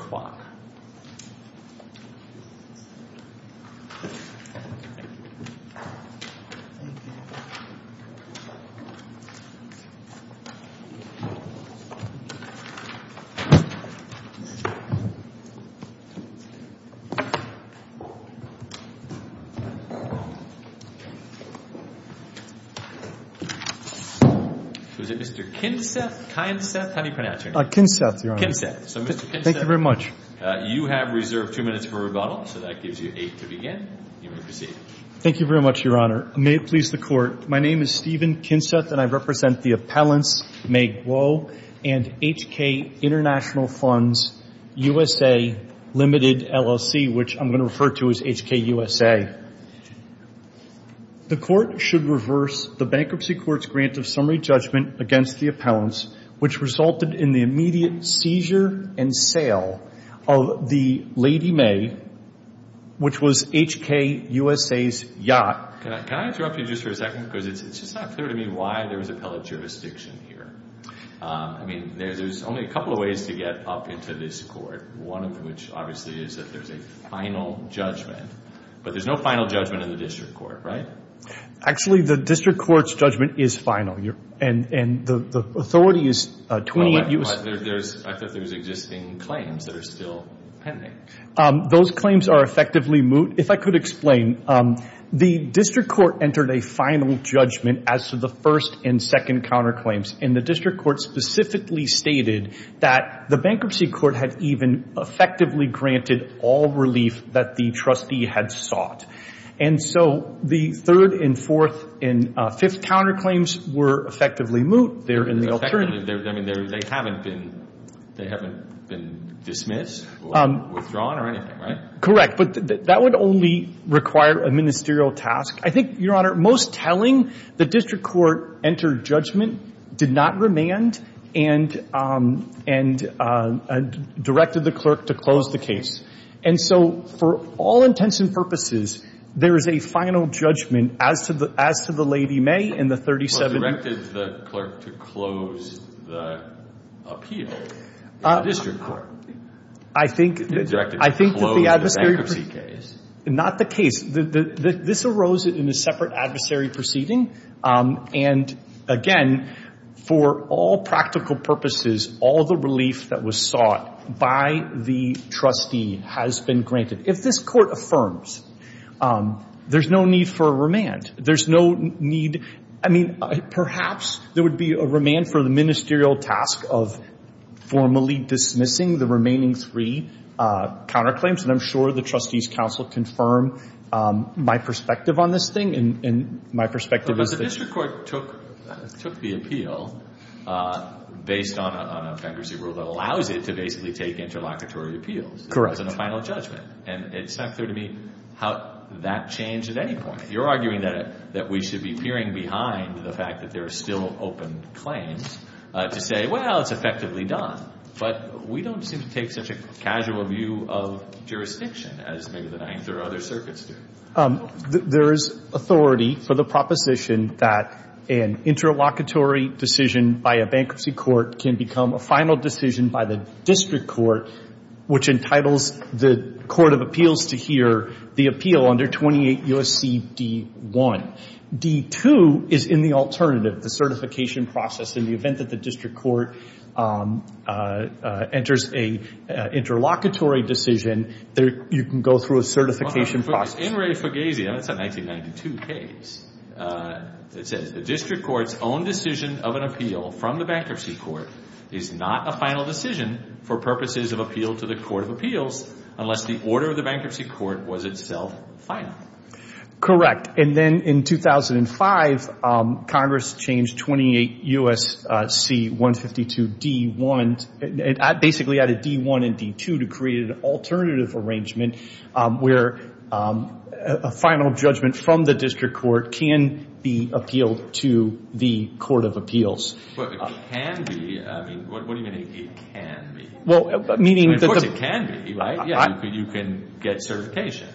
So is it Mr. Kinseth, Kyenseth, how do you pronounce your name? Kinseth, Your Honor. So Mr. Kinseth, you have reserved two minutes for rebuttal, so that gives you eight to begin. You may proceed. Thank you very much, Your Honor. May it please the Court. My name is Stephen Kinseth and I represent the Appellants Magwo and HK International Funds USA Limited LLC, which I'm going to refer to as HKUSA. The Court should reverse the Bankruptcy Court's grant of summary judgment against the appellants, which resulted in the immediate seizure and sale of the Lady May, which was HKUSA's yacht. Can I interrupt you just for a second? Because it's just not clear to me why there was appellate jurisdiction here. I mean, there's only a couple of ways to get up into this Court, one of which obviously is that there's a final judgment, but there's no final judgment in the District Court, right? Actually, the District Court's judgment is final. And the authority is 28 U.S. I thought there was existing claims that are still pending. Those claims are effectively moot. If I could explain, the District Court entered a final judgment as to the first and second counterclaims, and the District Court specifically stated that the Bankruptcy Court had even effectively granted all relief that the trustee had sought. And so the third and fourth and fifth counterclaims were effectively moot. They're in the alternative. I mean, they haven't been dismissed or withdrawn or anything, right? Correct, but that would only require a ministerial task. I think, Your Honor, most telling, the District Court entered judgment, did not remand, and directed the clerk to close the case. And so for all intents and purposes, there is a final judgment as to the Lady May and the 37. Well, directed the clerk to close the appeal in the District Court. I think that the adversary. Directed to close the bankruptcy case. Not the case. This arose in a separate adversary proceeding, and again, for all practical purposes, all the relief that was sought by the trustee has been granted. If this Court affirms, there's no need for a remand. There's no need. I mean, perhaps there would be a remand for the ministerial task of formally dismissing the remaining three counterclaims, and I'm sure the trustees' counsel confirm my perspective on this thing, and my perspective is that. Well, the District Court took the appeal based on an offensive rule that allows it to basically take interlocutory appeals. Correct. It wasn't a final judgment, and it's not clear to me how that changed at any point. You're arguing that we should be peering behind the fact that there are still open claims to say, well, it's effectively done, but we don't seem to take such a casual view of jurisdiction as maybe the Ninth or other circuits do. There is authority for the proposition that an interlocutory decision by a bankruptcy court can become a final decision by the District Court, which entitles the Court of Appeals to hear the appeal under 28 U.S.C. D-1. D-2 is in the alternative, the certification process. In the event that the District Court enters an interlocutory decision, you can go through a certification process. In Ray Fugazia, that's a 1992 case, it says the District Court's own decision of an appeal from the bankruptcy court is not a final decision for purposes of appeal to the Court of Appeals unless the order of the bankruptcy court was itself final. Correct. And then in 2005, Congress changed 28 U.S.C. 152 D-1, basically added D-1 and D-2 to create an alternative arrangement where a final judgment from the District Court can be appealed to the Court of Appeals. But it can be. I mean, what do you mean it can be? Well, meaning that the – Of course it can be, right? Yeah, you can get certification.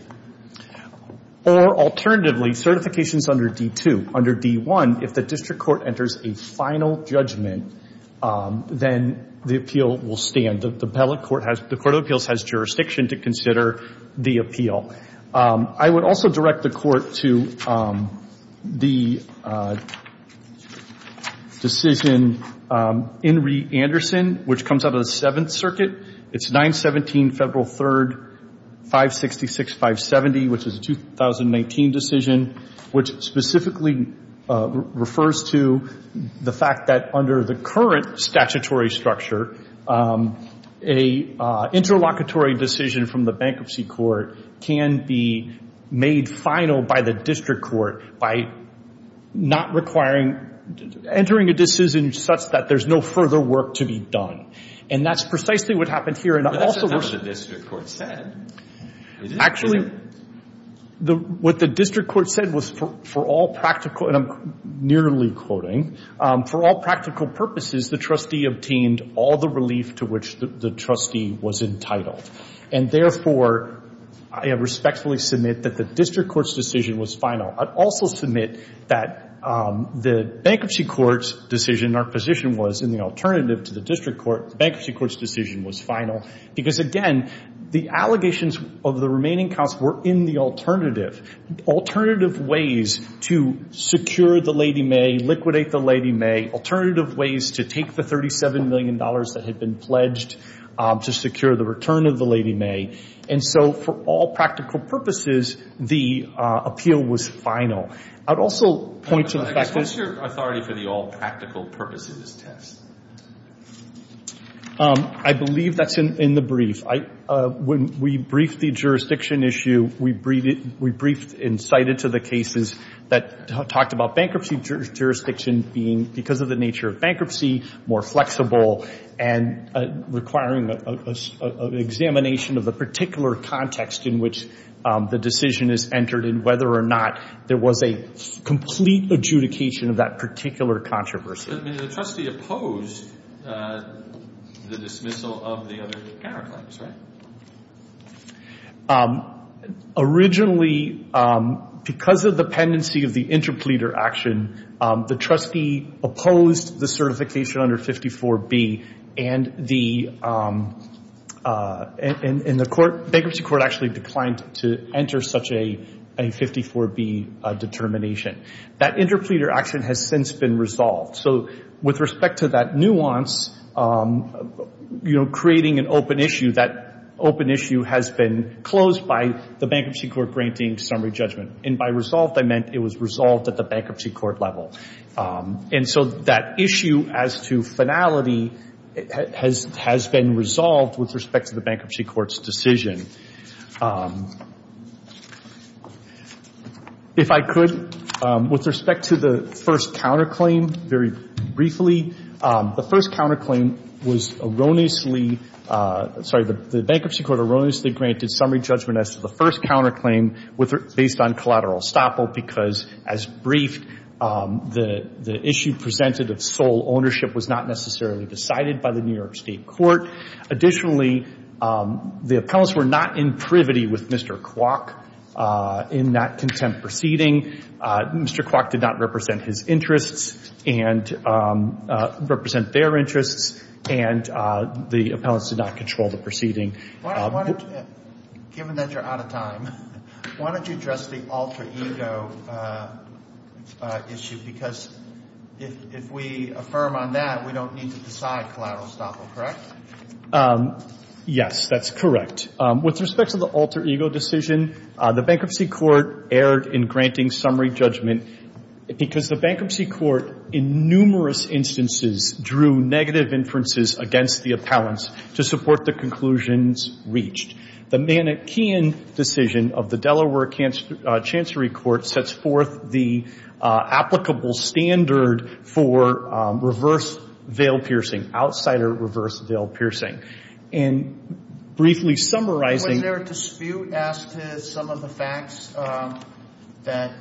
Or alternatively, certification is under D-2. Under D-1, if the District Court enters a final judgment, then the appeal will stand. The appellate court has – the Court of Appeals has jurisdiction to consider the appeal. I would also direct the Court to the decision in Reed-Anderson, which comes out of the Seventh Circuit. It's 917 Federal 3rd 566-570, which is a 2019 decision, which specifically refers to the fact that under the current statutory structure, an interlocutory decision from the Bankruptcy Court can be made final by the District Court by not requiring – entering a decision such that there's no further work to be done. And that's precisely what happened here. But that's not what the District Court said. Actually, what the District Court said was for all practical – and I'm nearly quoting – for all practical purposes, the trustee obtained all the relief to which the trustee was entitled. And therefore, I respectfully submit that the District Court's decision was final. I'd also submit that the Bankruptcy Court's decision – our position was, in the alternative to the District Court, the Bankruptcy Court's decision was final because, again, the allegations of the remaining counts were in the alternative – alternative ways to secure the Lady May, liquidate the Lady May, alternative ways to take the $37 million that had been pledged to secure the return of the Lady May. And so for all practical purposes, the appeal was final. I'd also point to the fact that – I believe that's in the brief. When we briefed the jurisdiction issue, we briefed and cited to the cases that talked about bankruptcy jurisdiction being, because of the nature of bankruptcy, more flexible and requiring an examination of the particular context in which the decision is entered and whether or not there was a complete adjudication of that particular controversy. But the trustee opposed the dismissal of the other counterclaims, right? Originally, because of the pendency of the interpleader action, the trustee opposed the certification under 54B, and the – and the Bankruptcy Court actually declined to enter such a 54B determination. That interpleader action has since been resolved. So with respect to that nuance, you know, creating an open issue, that open issue has been closed by the Bankruptcy Court granting summary judgment. And by resolved, I meant it was resolved at the Bankruptcy Court level. And so that issue as to finality has been resolved with respect to the Bankruptcy Court's decision. If I could, with respect to the first counterclaim, very briefly, the first counterclaim was erroneously – sorry, the Bankruptcy Court erroneously granted summary judgment as to the first counterclaim based on collateral estoppel, because as briefed, the issue presented of sole ownership was not necessarily decided by the New York State Court. Additionally, the appellants were not in privity with Mr. Kwok in that contempt proceeding. Mr. Kwok did not represent his interests and – represent their interests, and the appellants did not control the proceeding. Given that you're out of time, why don't you address the alter ego issue? Because if we affirm on that, we don't need to decide collateral estoppel, correct? Yes, that's correct. With respect to the alter ego decision, the Bankruptcy Court erred in granting summary judgment because the Bankruptcy Court, in numerous instances, drew negative inferences against the appellants to support the conclusions reached. The Manikean decision of the Delaware Chancery Court sets forth the applicable standard for reverse veil piercing, outsider reverse veil piercing. In briefly summarizing – Was there a dispute as to some of the facts that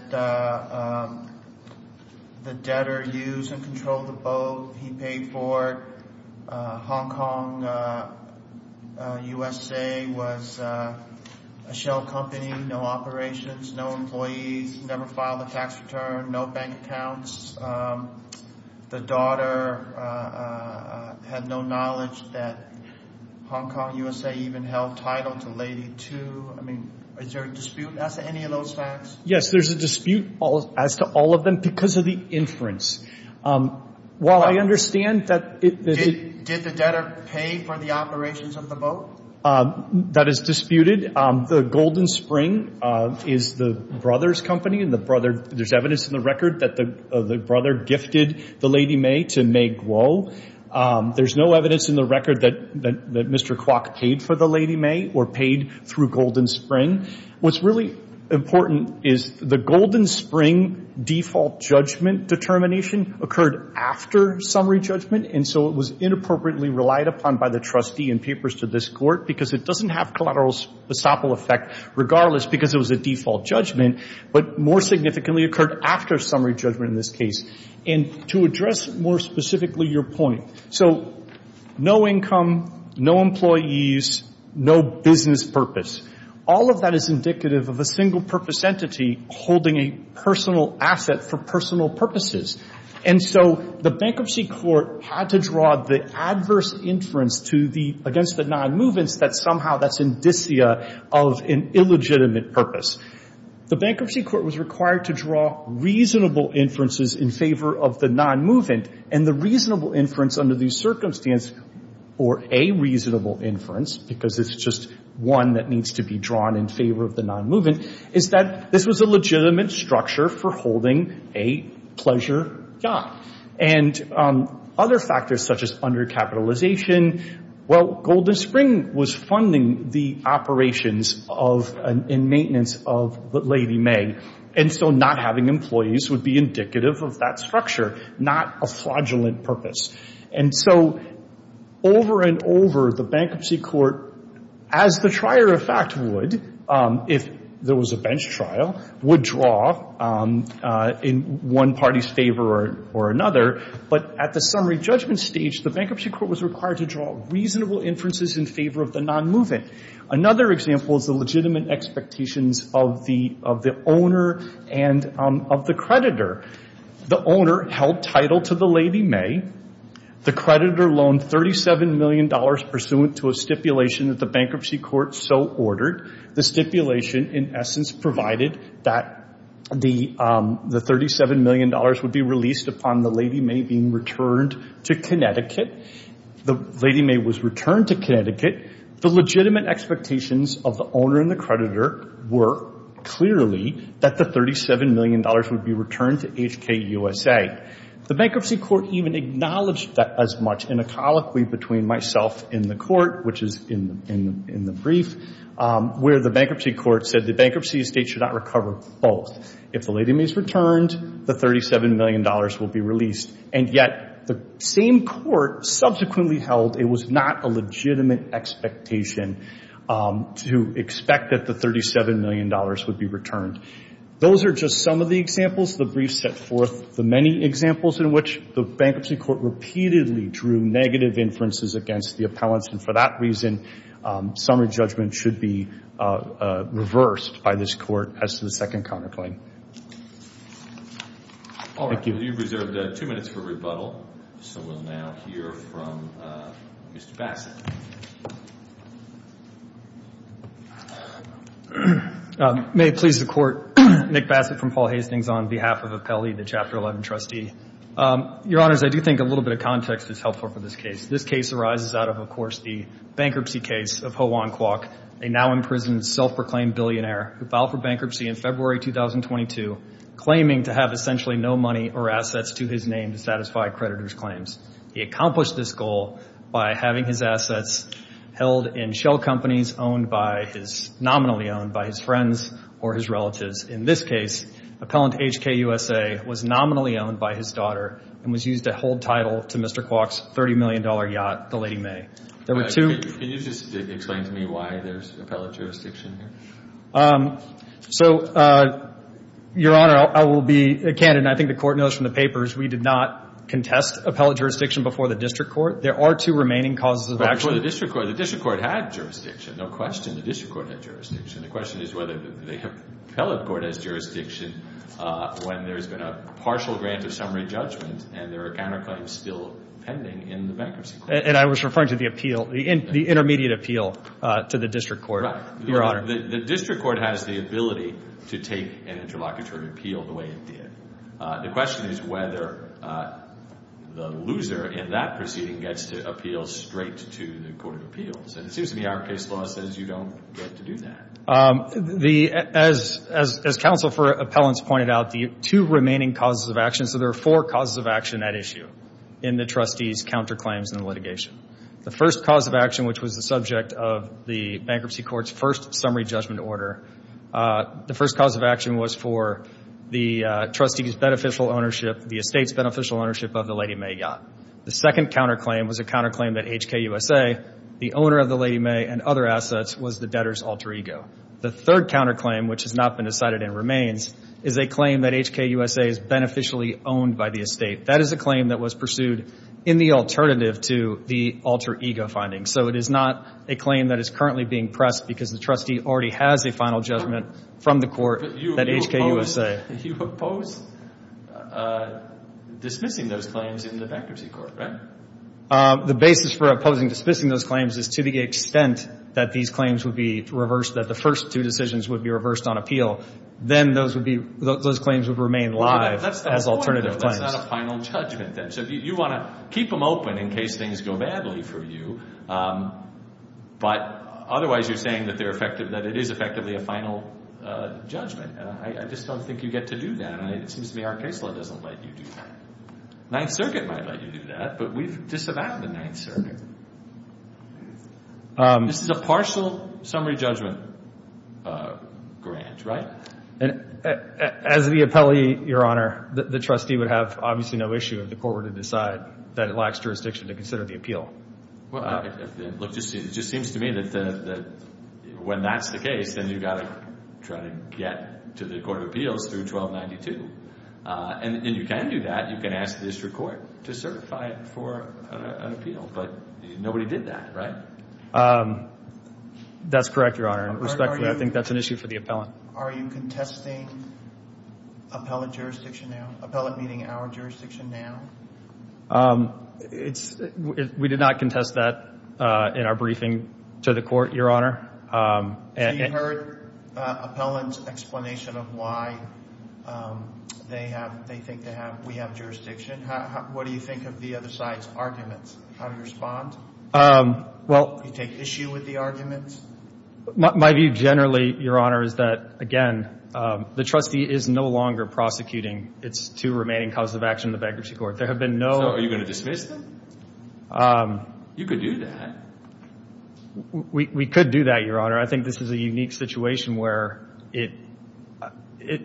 the debtor used and controlled the boat? He paid for it. Hong Kong, USA, was a shell company, no operations, no employees, never filed a tax return, no bank accounts. The daughter had no knowledge that Hong Kong, USA, even held title to Lady Two. I mean, is there a dispute as to any of those facts? Yes, there's a dispute as to all of them because of the inference. While I understand that it – Did the debtor pay for the operations of the boat? That is disputed. The Golden Spring is the brother's company, and the brother – there's evidence in the record that the brother gifted the Lady May to May Guo. There's no evidence in the record that Mr. Kwok paid for the Lady May or paid through Golden Spring. What's really important is the Golden Spring default judgment determination occurred after summary judgment, and so it was inappropriately relied upon by the trustee in papers to this Court because it doesn't have collateral estoppel effect regardless because it was a default judgment, but more significantly occurred after summary judgment in this case. And to address more specifically your point, so no income, no employees, no business purpose. All of that is indicative of a single-purpose entity holding a personal asset for personal purposes. And so the Bankruptcy Court had to draw the adverse inference to the – against the nonmovements that somehow that's indicia of an illegitimate purpose. The Bankruptcy Court was required to draw reasonable inferences in favor of the nonmovement, and the reasonable inference under these circumstances, or a reasonable inference because it's just one that needs to be drawn in favor of the nonmovement, is that this was a legitimate structure for holding a pleasure job. And other factors such as undercapitalization, well, Golden Spring was funding the operations of and maintenance of Lady May, and so not having employees would be indicative of that structure, not a fraudulent purpose. And so over and over, the Bankruptcy Court, as the trier effect would, if there was a bench trial, would draw in one party's favor or another. But at the summary judgment stage, the Bankruptcy Court was required to draw reasonable inferences in favor of the nonmovement. Another example is the legitimate expectations of the owner and of the creditor. The owner held title to the Lady May. The creditor loaned $37 million pursuant to a stipulation that the Bankruptcy Court so ordered. The stipulation, in essence, provided that the $37 million would be released upon the Lady May being returned to Connecticut. The Lady May was returned to Connecticut. The legitimate expectations of the owner and the creditor were clearly that the $37 million would be returned to HKUSA. The Bankruptcy Court even acknowledged that as much, in a colloquy between myself in the court, which is in the brief, where the Bankruptcy Court said the bankruptcy estate should not recover both. If the Lady May is returned, the $37 million will be released. And yet the same court subsequently held it was not a legitimate expectation to expect that the $37 million would be returned. Those are just some of the examples. The brief set forth the many examples in which the Bankruptcy Court repeatedly drew negative inferences against the appellants. And for that reason, summary judgment should be reversed by this court as to the second counterclaim. Thank you. You've reserved two minutes for rebuttal. So we'll now hear from Mr. Bassett. May it please the Court, Nick Bassett from Paul Hastings on behalf of Appelli, the Chapter 11 trustee. Your Honors, I do think a little bit of context is helpful for this case. This case arises out of, of course, the bankruptcy case of Ho-Wan Kwok, a now-imprisoned, self-proclaimed billionaire who filed for bankruptcy in February 2022, claiming to have essentially no money or assets to his name to satisfy creditors' claims. He accomplished this goal by having his assets transferred held in shell companies owned by his, nominally owned by his friends or his relatives. In this case, appellant HKUSA was nominally owned by his daughter and was used to hold title to Mr. Kwok's $30 million yacht, the Lady May. Can you just explain to me why there's appellate jurisdiction here? So, Your Honor, I will be candid, and I think the Court knows from the papers, we did not contest appellate jurisdiction before the District Court. There are two remaining causes of action. But before the District Court, the District Court had jurisdiction, no question. The District Court had jurisdiction. The question is whether the appellate court has jurisdiction when there's been a partial grant of summary judgment and there are counterclaims still pending in the bankruptcy claim. And I was referring to the appeal, the intermediate appeal to the District Court. Right. Your Honor. The District Court has the ability to take an interlocutory appeal the way it did. The question is whether the loser in that proceeding gets to appeal straight to the Court of Appeals. And it seems to me our case law says you don't get to do that. As counsel for appellants pointed out, the two remaining causes of action, so there are four causes of action at issue in the trustee's counterclaims and litigation. The first cause of action, which was the subject of the bankruptcy court's first summary judgment order, the first cause of action was for the trustee's beneficial ownership, the estate's beneficial ownership of the Lady Mae yacht. The second counterclaim was a counterclaim that HKUSA, the owner of the Lady Mae, and other assets was the debtor's alter ego. The third counterclaim, which has not been decided and remains, is a claim that HKUSA is beneficially owned by the estate. That is a claim that was pursued in the alternative to the alter ego finding. So it is not a claim that is currently being pressed because the trustee already has a final judgment from the court that HKUSA. You oppose dismissing those claims in the bankruptcy court, right? The basis for opposing dismissing those claims is to the extent that these claims would be reversed, that the first two decisions would be reversed on appeal. Then those claims would remain live as alternative claims. That's not a final judgment then. So you want to keep them open in case things go badly for you, but otherwise you're saying that it is effectively a final judgment. I just don't think you get to do that. It seems to me our case law doesn't let you do that. Ninth Circuit might let you do that, but we've disavowed the Ninth Circuit. This is a partial summary judgment grant, right? As the appellee, Your Honor, the trustee would have obviously no issue if the court were to decide that it lacks jurisdiction to consider the appeal. It just seems to me that when that's the case, then you've got to try to get to the court of appeals through 1292. And you can do that. You can ask the district court to certify it for an appeal, but nobody did that, right? That's correct, Your Honor. Respectfully, I think that's an issue for the appellant. Are you contesting appellant jurisdiction now? Appellant meaning our jurisdiction now? We did not contest that in our briefing to the court, Your Honor. So you heard appellant's explanation of why they think we have jurisdiction. What do you think of the other side's arguments? How do you respond? Do you take issue with the arguments? My view generally, Your Honor, is that, again, the trustee is no longer prosecuting its two remaining causes of action in the bankruptcy court. So are you going to dismiss them? You could do that. We could do that, Your Honor. I think this is a unique situation where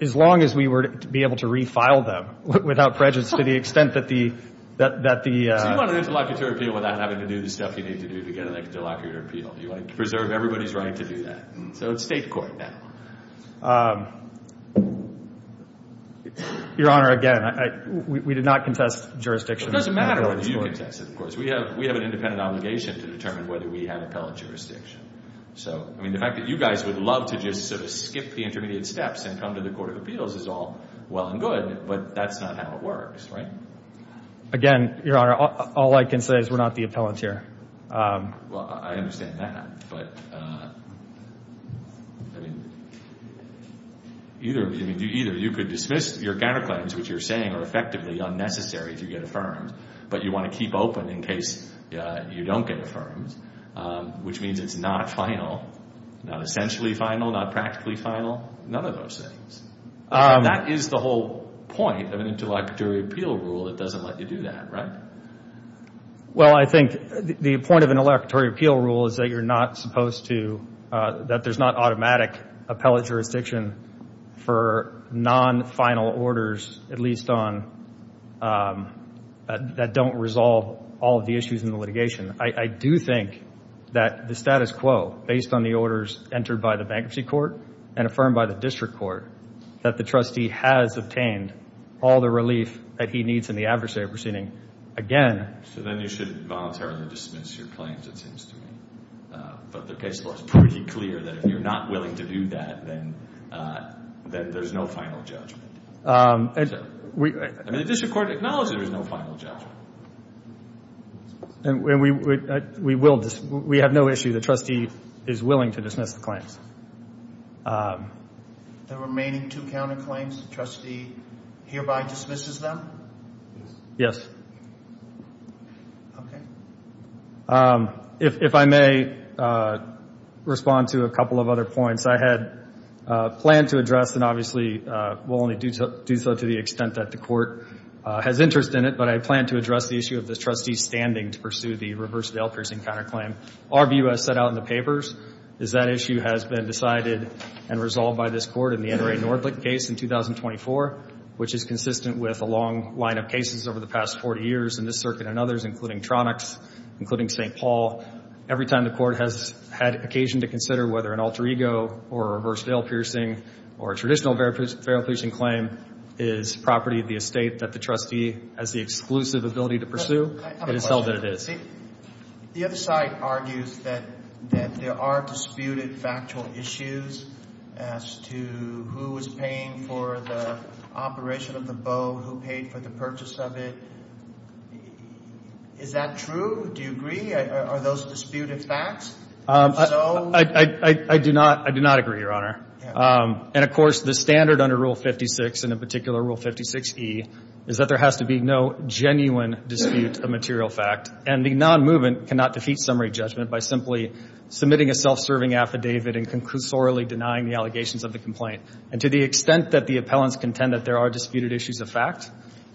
as long as we were to be able to refile them without prejudice to the extent that the— So you want an interlocutor appeal without having to do the stuff you need to do to get an interlocutor appeal. You want to preserve everybody's right to do that. So it's state court now. Your Honor, again, we did not contest jurisdiction. It doesn't matter whether you contest it, of course. We have an independent obligation to determine whether we have appellant jurisdiction. So, I mean, the fact that you guys would love to just sort of skip the intermediate steps and come to the court of appeals is all well and good, but that's not how it works, right? Again, Your Honor, all I can say is we're not the appellant here. Well, I understand that, but, I mean, either you could dismiss your counterclaims, which you're saying are effectively unnecessary if you get affirmed, but you want to keep open in case you don't get affirmed, which means it's not final, not essentially final, not practically final, none of those things. That is the whole point of an interlocutory appeal rule. It doesn't let you do that, right? Well, I think the point of an interlocutory appeal rule is that you're not supposed to, that there's not automatic appellate jurisdiction for non-final orders, at least on, that don't resolve all of the issues in the litigation. I do think that the status quo, based on the orders entered by the bankruptcy court and affirmed by the district court, that the trustee has obtained all the relief that he needs in the adversary proceeding again. So then you should voluntarily dismiss your claims, it seems to me. But the case law is pretty clear that if you're not willing to do that, then there's no final judgment. I mean, the district court acknowledges there's no final judgment. And we have no issue. The trustee is willing to dismiss the claims. The remaining two counterclaims, the trustee hereby dismisses them? Yes. Okay. If I may respond to a couple of other points. I had planned to address, and obviously will only do so to the extent that the court has interest in it, but I planned to address the issue of the trustee's standing to pursue the reverse Dale piercing counterclaim. Our view, as set out in the papers, is that issue has been decided and resolved by this court in the NRA Nordlicht case in 2024, which is consistent with a long line of cases over the past 40 years in this circuit and others, including Tronics, including St. Paul. Every time the court has had occasion to consider whether an alter ego or a reverse Dale piercing or a traditional Dale piercing claim is property of the estate that the trustee has the exclusive ability to pursue, it is so that it is. The other side argues that there are disputed factual issues as to who is paying for the operation of the bow, who paid for the purchase of it. Is that true? Do you agree? Are those disputed facts? I do not. I do not agree, Your Honor. And, of course, the standard under Rule 56, and in particular Rule 56E, is that there has to be no genuine dispute of material fact. And the non-movement cannot defeat summary judgment by simply submitting a self-serving affidavit and conclusorily denying the allegations of the complaint. And to the extent that the appellants contend that there are disputed issues of fact,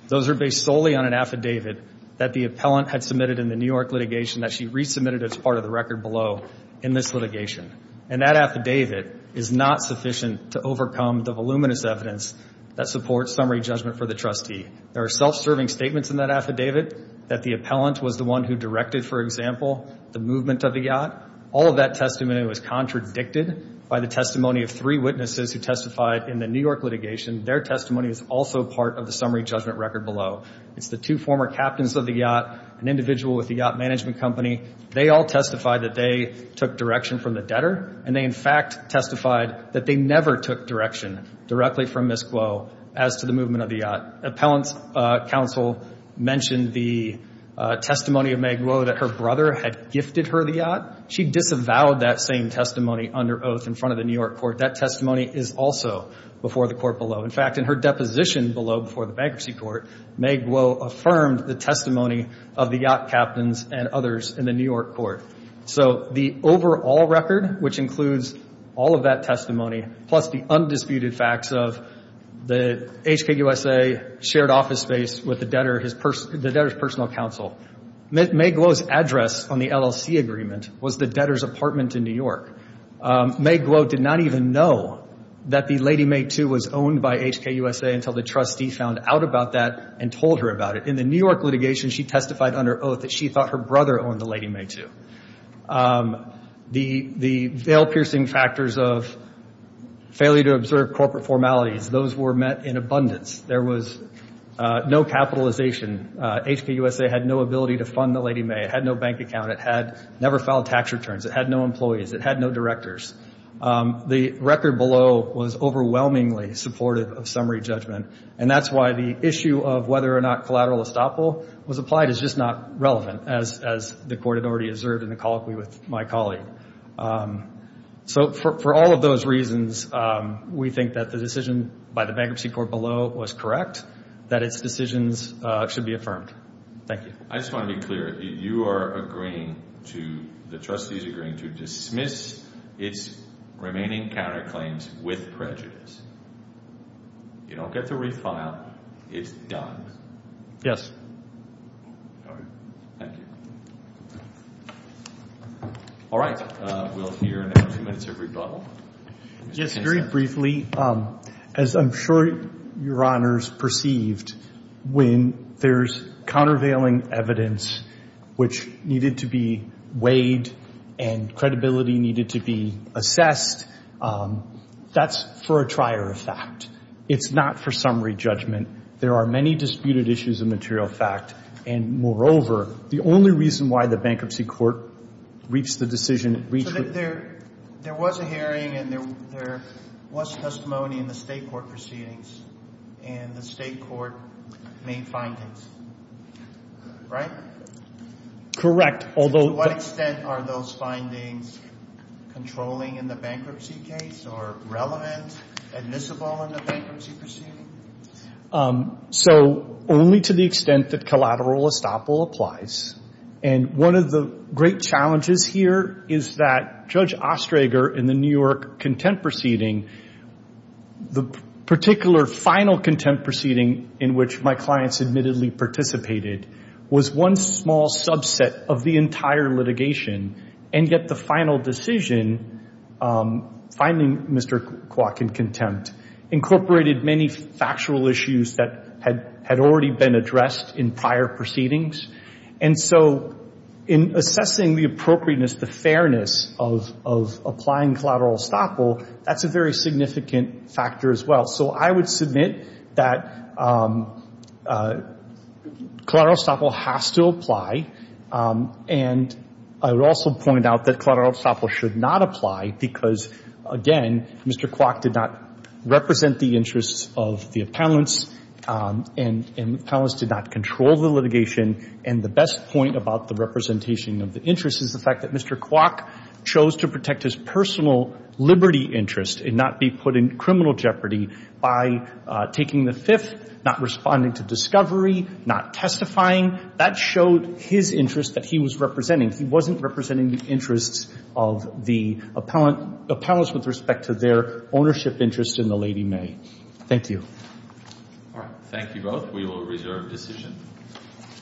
those are based solely on an affidavit that the appellant had submitted in the New York litigation that she resubmitted as part of the record below in this litigation. And that affidavit is not sufficient to overcome the voluminous evidence that supports summary judgment for the trustee. There are self-serving statements in that affidavit that the appellant was the one who directed, for example, the movement of the yacht. All of that testimony was contradicted by the testimony of three witnesses who testified in the New York litigation. Their testimony is also part of the summary judgment record below. It's the two former captains of the yacht, an individual with the yacht management company. They all testified that they took direction from the debtor, and they in fact testified that they never took direction directly from Ms. Glow as to the movement of the yacht. Appellant's counsel mentioned the testimony of Meg Glow that her brother had gifted her the yacht. She disavowed that same testimony under oath in front of the New York court. That testimony is also before the court below. In fact, in her deposition below before the bankruptcy court, Meg Glow affirmed the testimony of the yacht captains and others in the New York court. So the overall record, which includes all of that testimony, plus the undisputed facts of the HKUSA shared office space with the debtor, the debtor's personal counsel, Meg Glow's address on the LLC agreement was the debtor's apartment in New York. Meg Glow did not even know that the Lady May II was owned by HKUSA until the trustee found out about that and told her about it. In the New York litigation, she testified under oath that she thought her brother owned the Lady May II. The veil-piercing factors of failure to observe corporate formalities, those were met in abundance. There was no capitalization. HKUSA had no ability to fund the Lady May. It had no bank account. It had never filed tax returns. It had no employees. It had no directors. The record below was overwhelmingly supportive of summary judgment, and that's why the issue of whether or not collateral estoppel was applied is just not relevant, as the court had already observed in the colloquy with my colleague. So for all of those reasons, we think that the decision by the bankruptcy court below was correct, that its decisions should be affirmed. Thank you. I just want to be clear. You are agreeing to, the trustee is agreeing to dismiss its remaining counterclaims with prejudice. You don't get to refile. It's done. Yes. All right. Thank you. All right. We'll hear in a few minutes a rebuttal. Yes, very briefly. As I'm sure Your Honors perceived, when there's countervailing evidence which needed to be weighed and credibility needed to be assessed, that's for a trier of fact. It's not for summary judgment. There are many disputed issues of material fact, and, moreover, the only reason why the bankruptcy court reached the decision, reached with There was a hearing and there was testimony in the state court proceedings, and the state court made findings, right? Correct. To what extent are those findings controlling in the bankruptcy case or relevant, admissible in the bankruptcy proceeding? So only to the extent that collateral estoppel applies. And one of the great challenges here is that Judge Ostrager in the New York contempt proceeding, the particular final contempt proceeding in which my clients admittedly participated, was one small subset of the entire litigation, and yet the final decision finding Mr. Kwok in contempt incorporated many factual issues that had already been addressed in prior proceedings. And so in assessing the appropriateness, the fairness of applying collateral estoppel, that's a very significant factor as well. So I would submit that collateral estoppel has to apply, and I would also point out that collateral estoppel should not apply because, again, Mr. Kwok did not represent the interests of the appellants, and the appellants did not control the litigation. And the best point about the representation of the interest is the fact that Mr. Kwok chose to protect his personal liberty interest and not be put in criminal jeopardy by taking the Fifth, not responding to discovery, not testifying. That showed his interest that he was representing. He wasn't representing the interests of the appellants with respect to their ownership interests in the Lady May. Thank you. All right. Thank you both. We will reserve decision.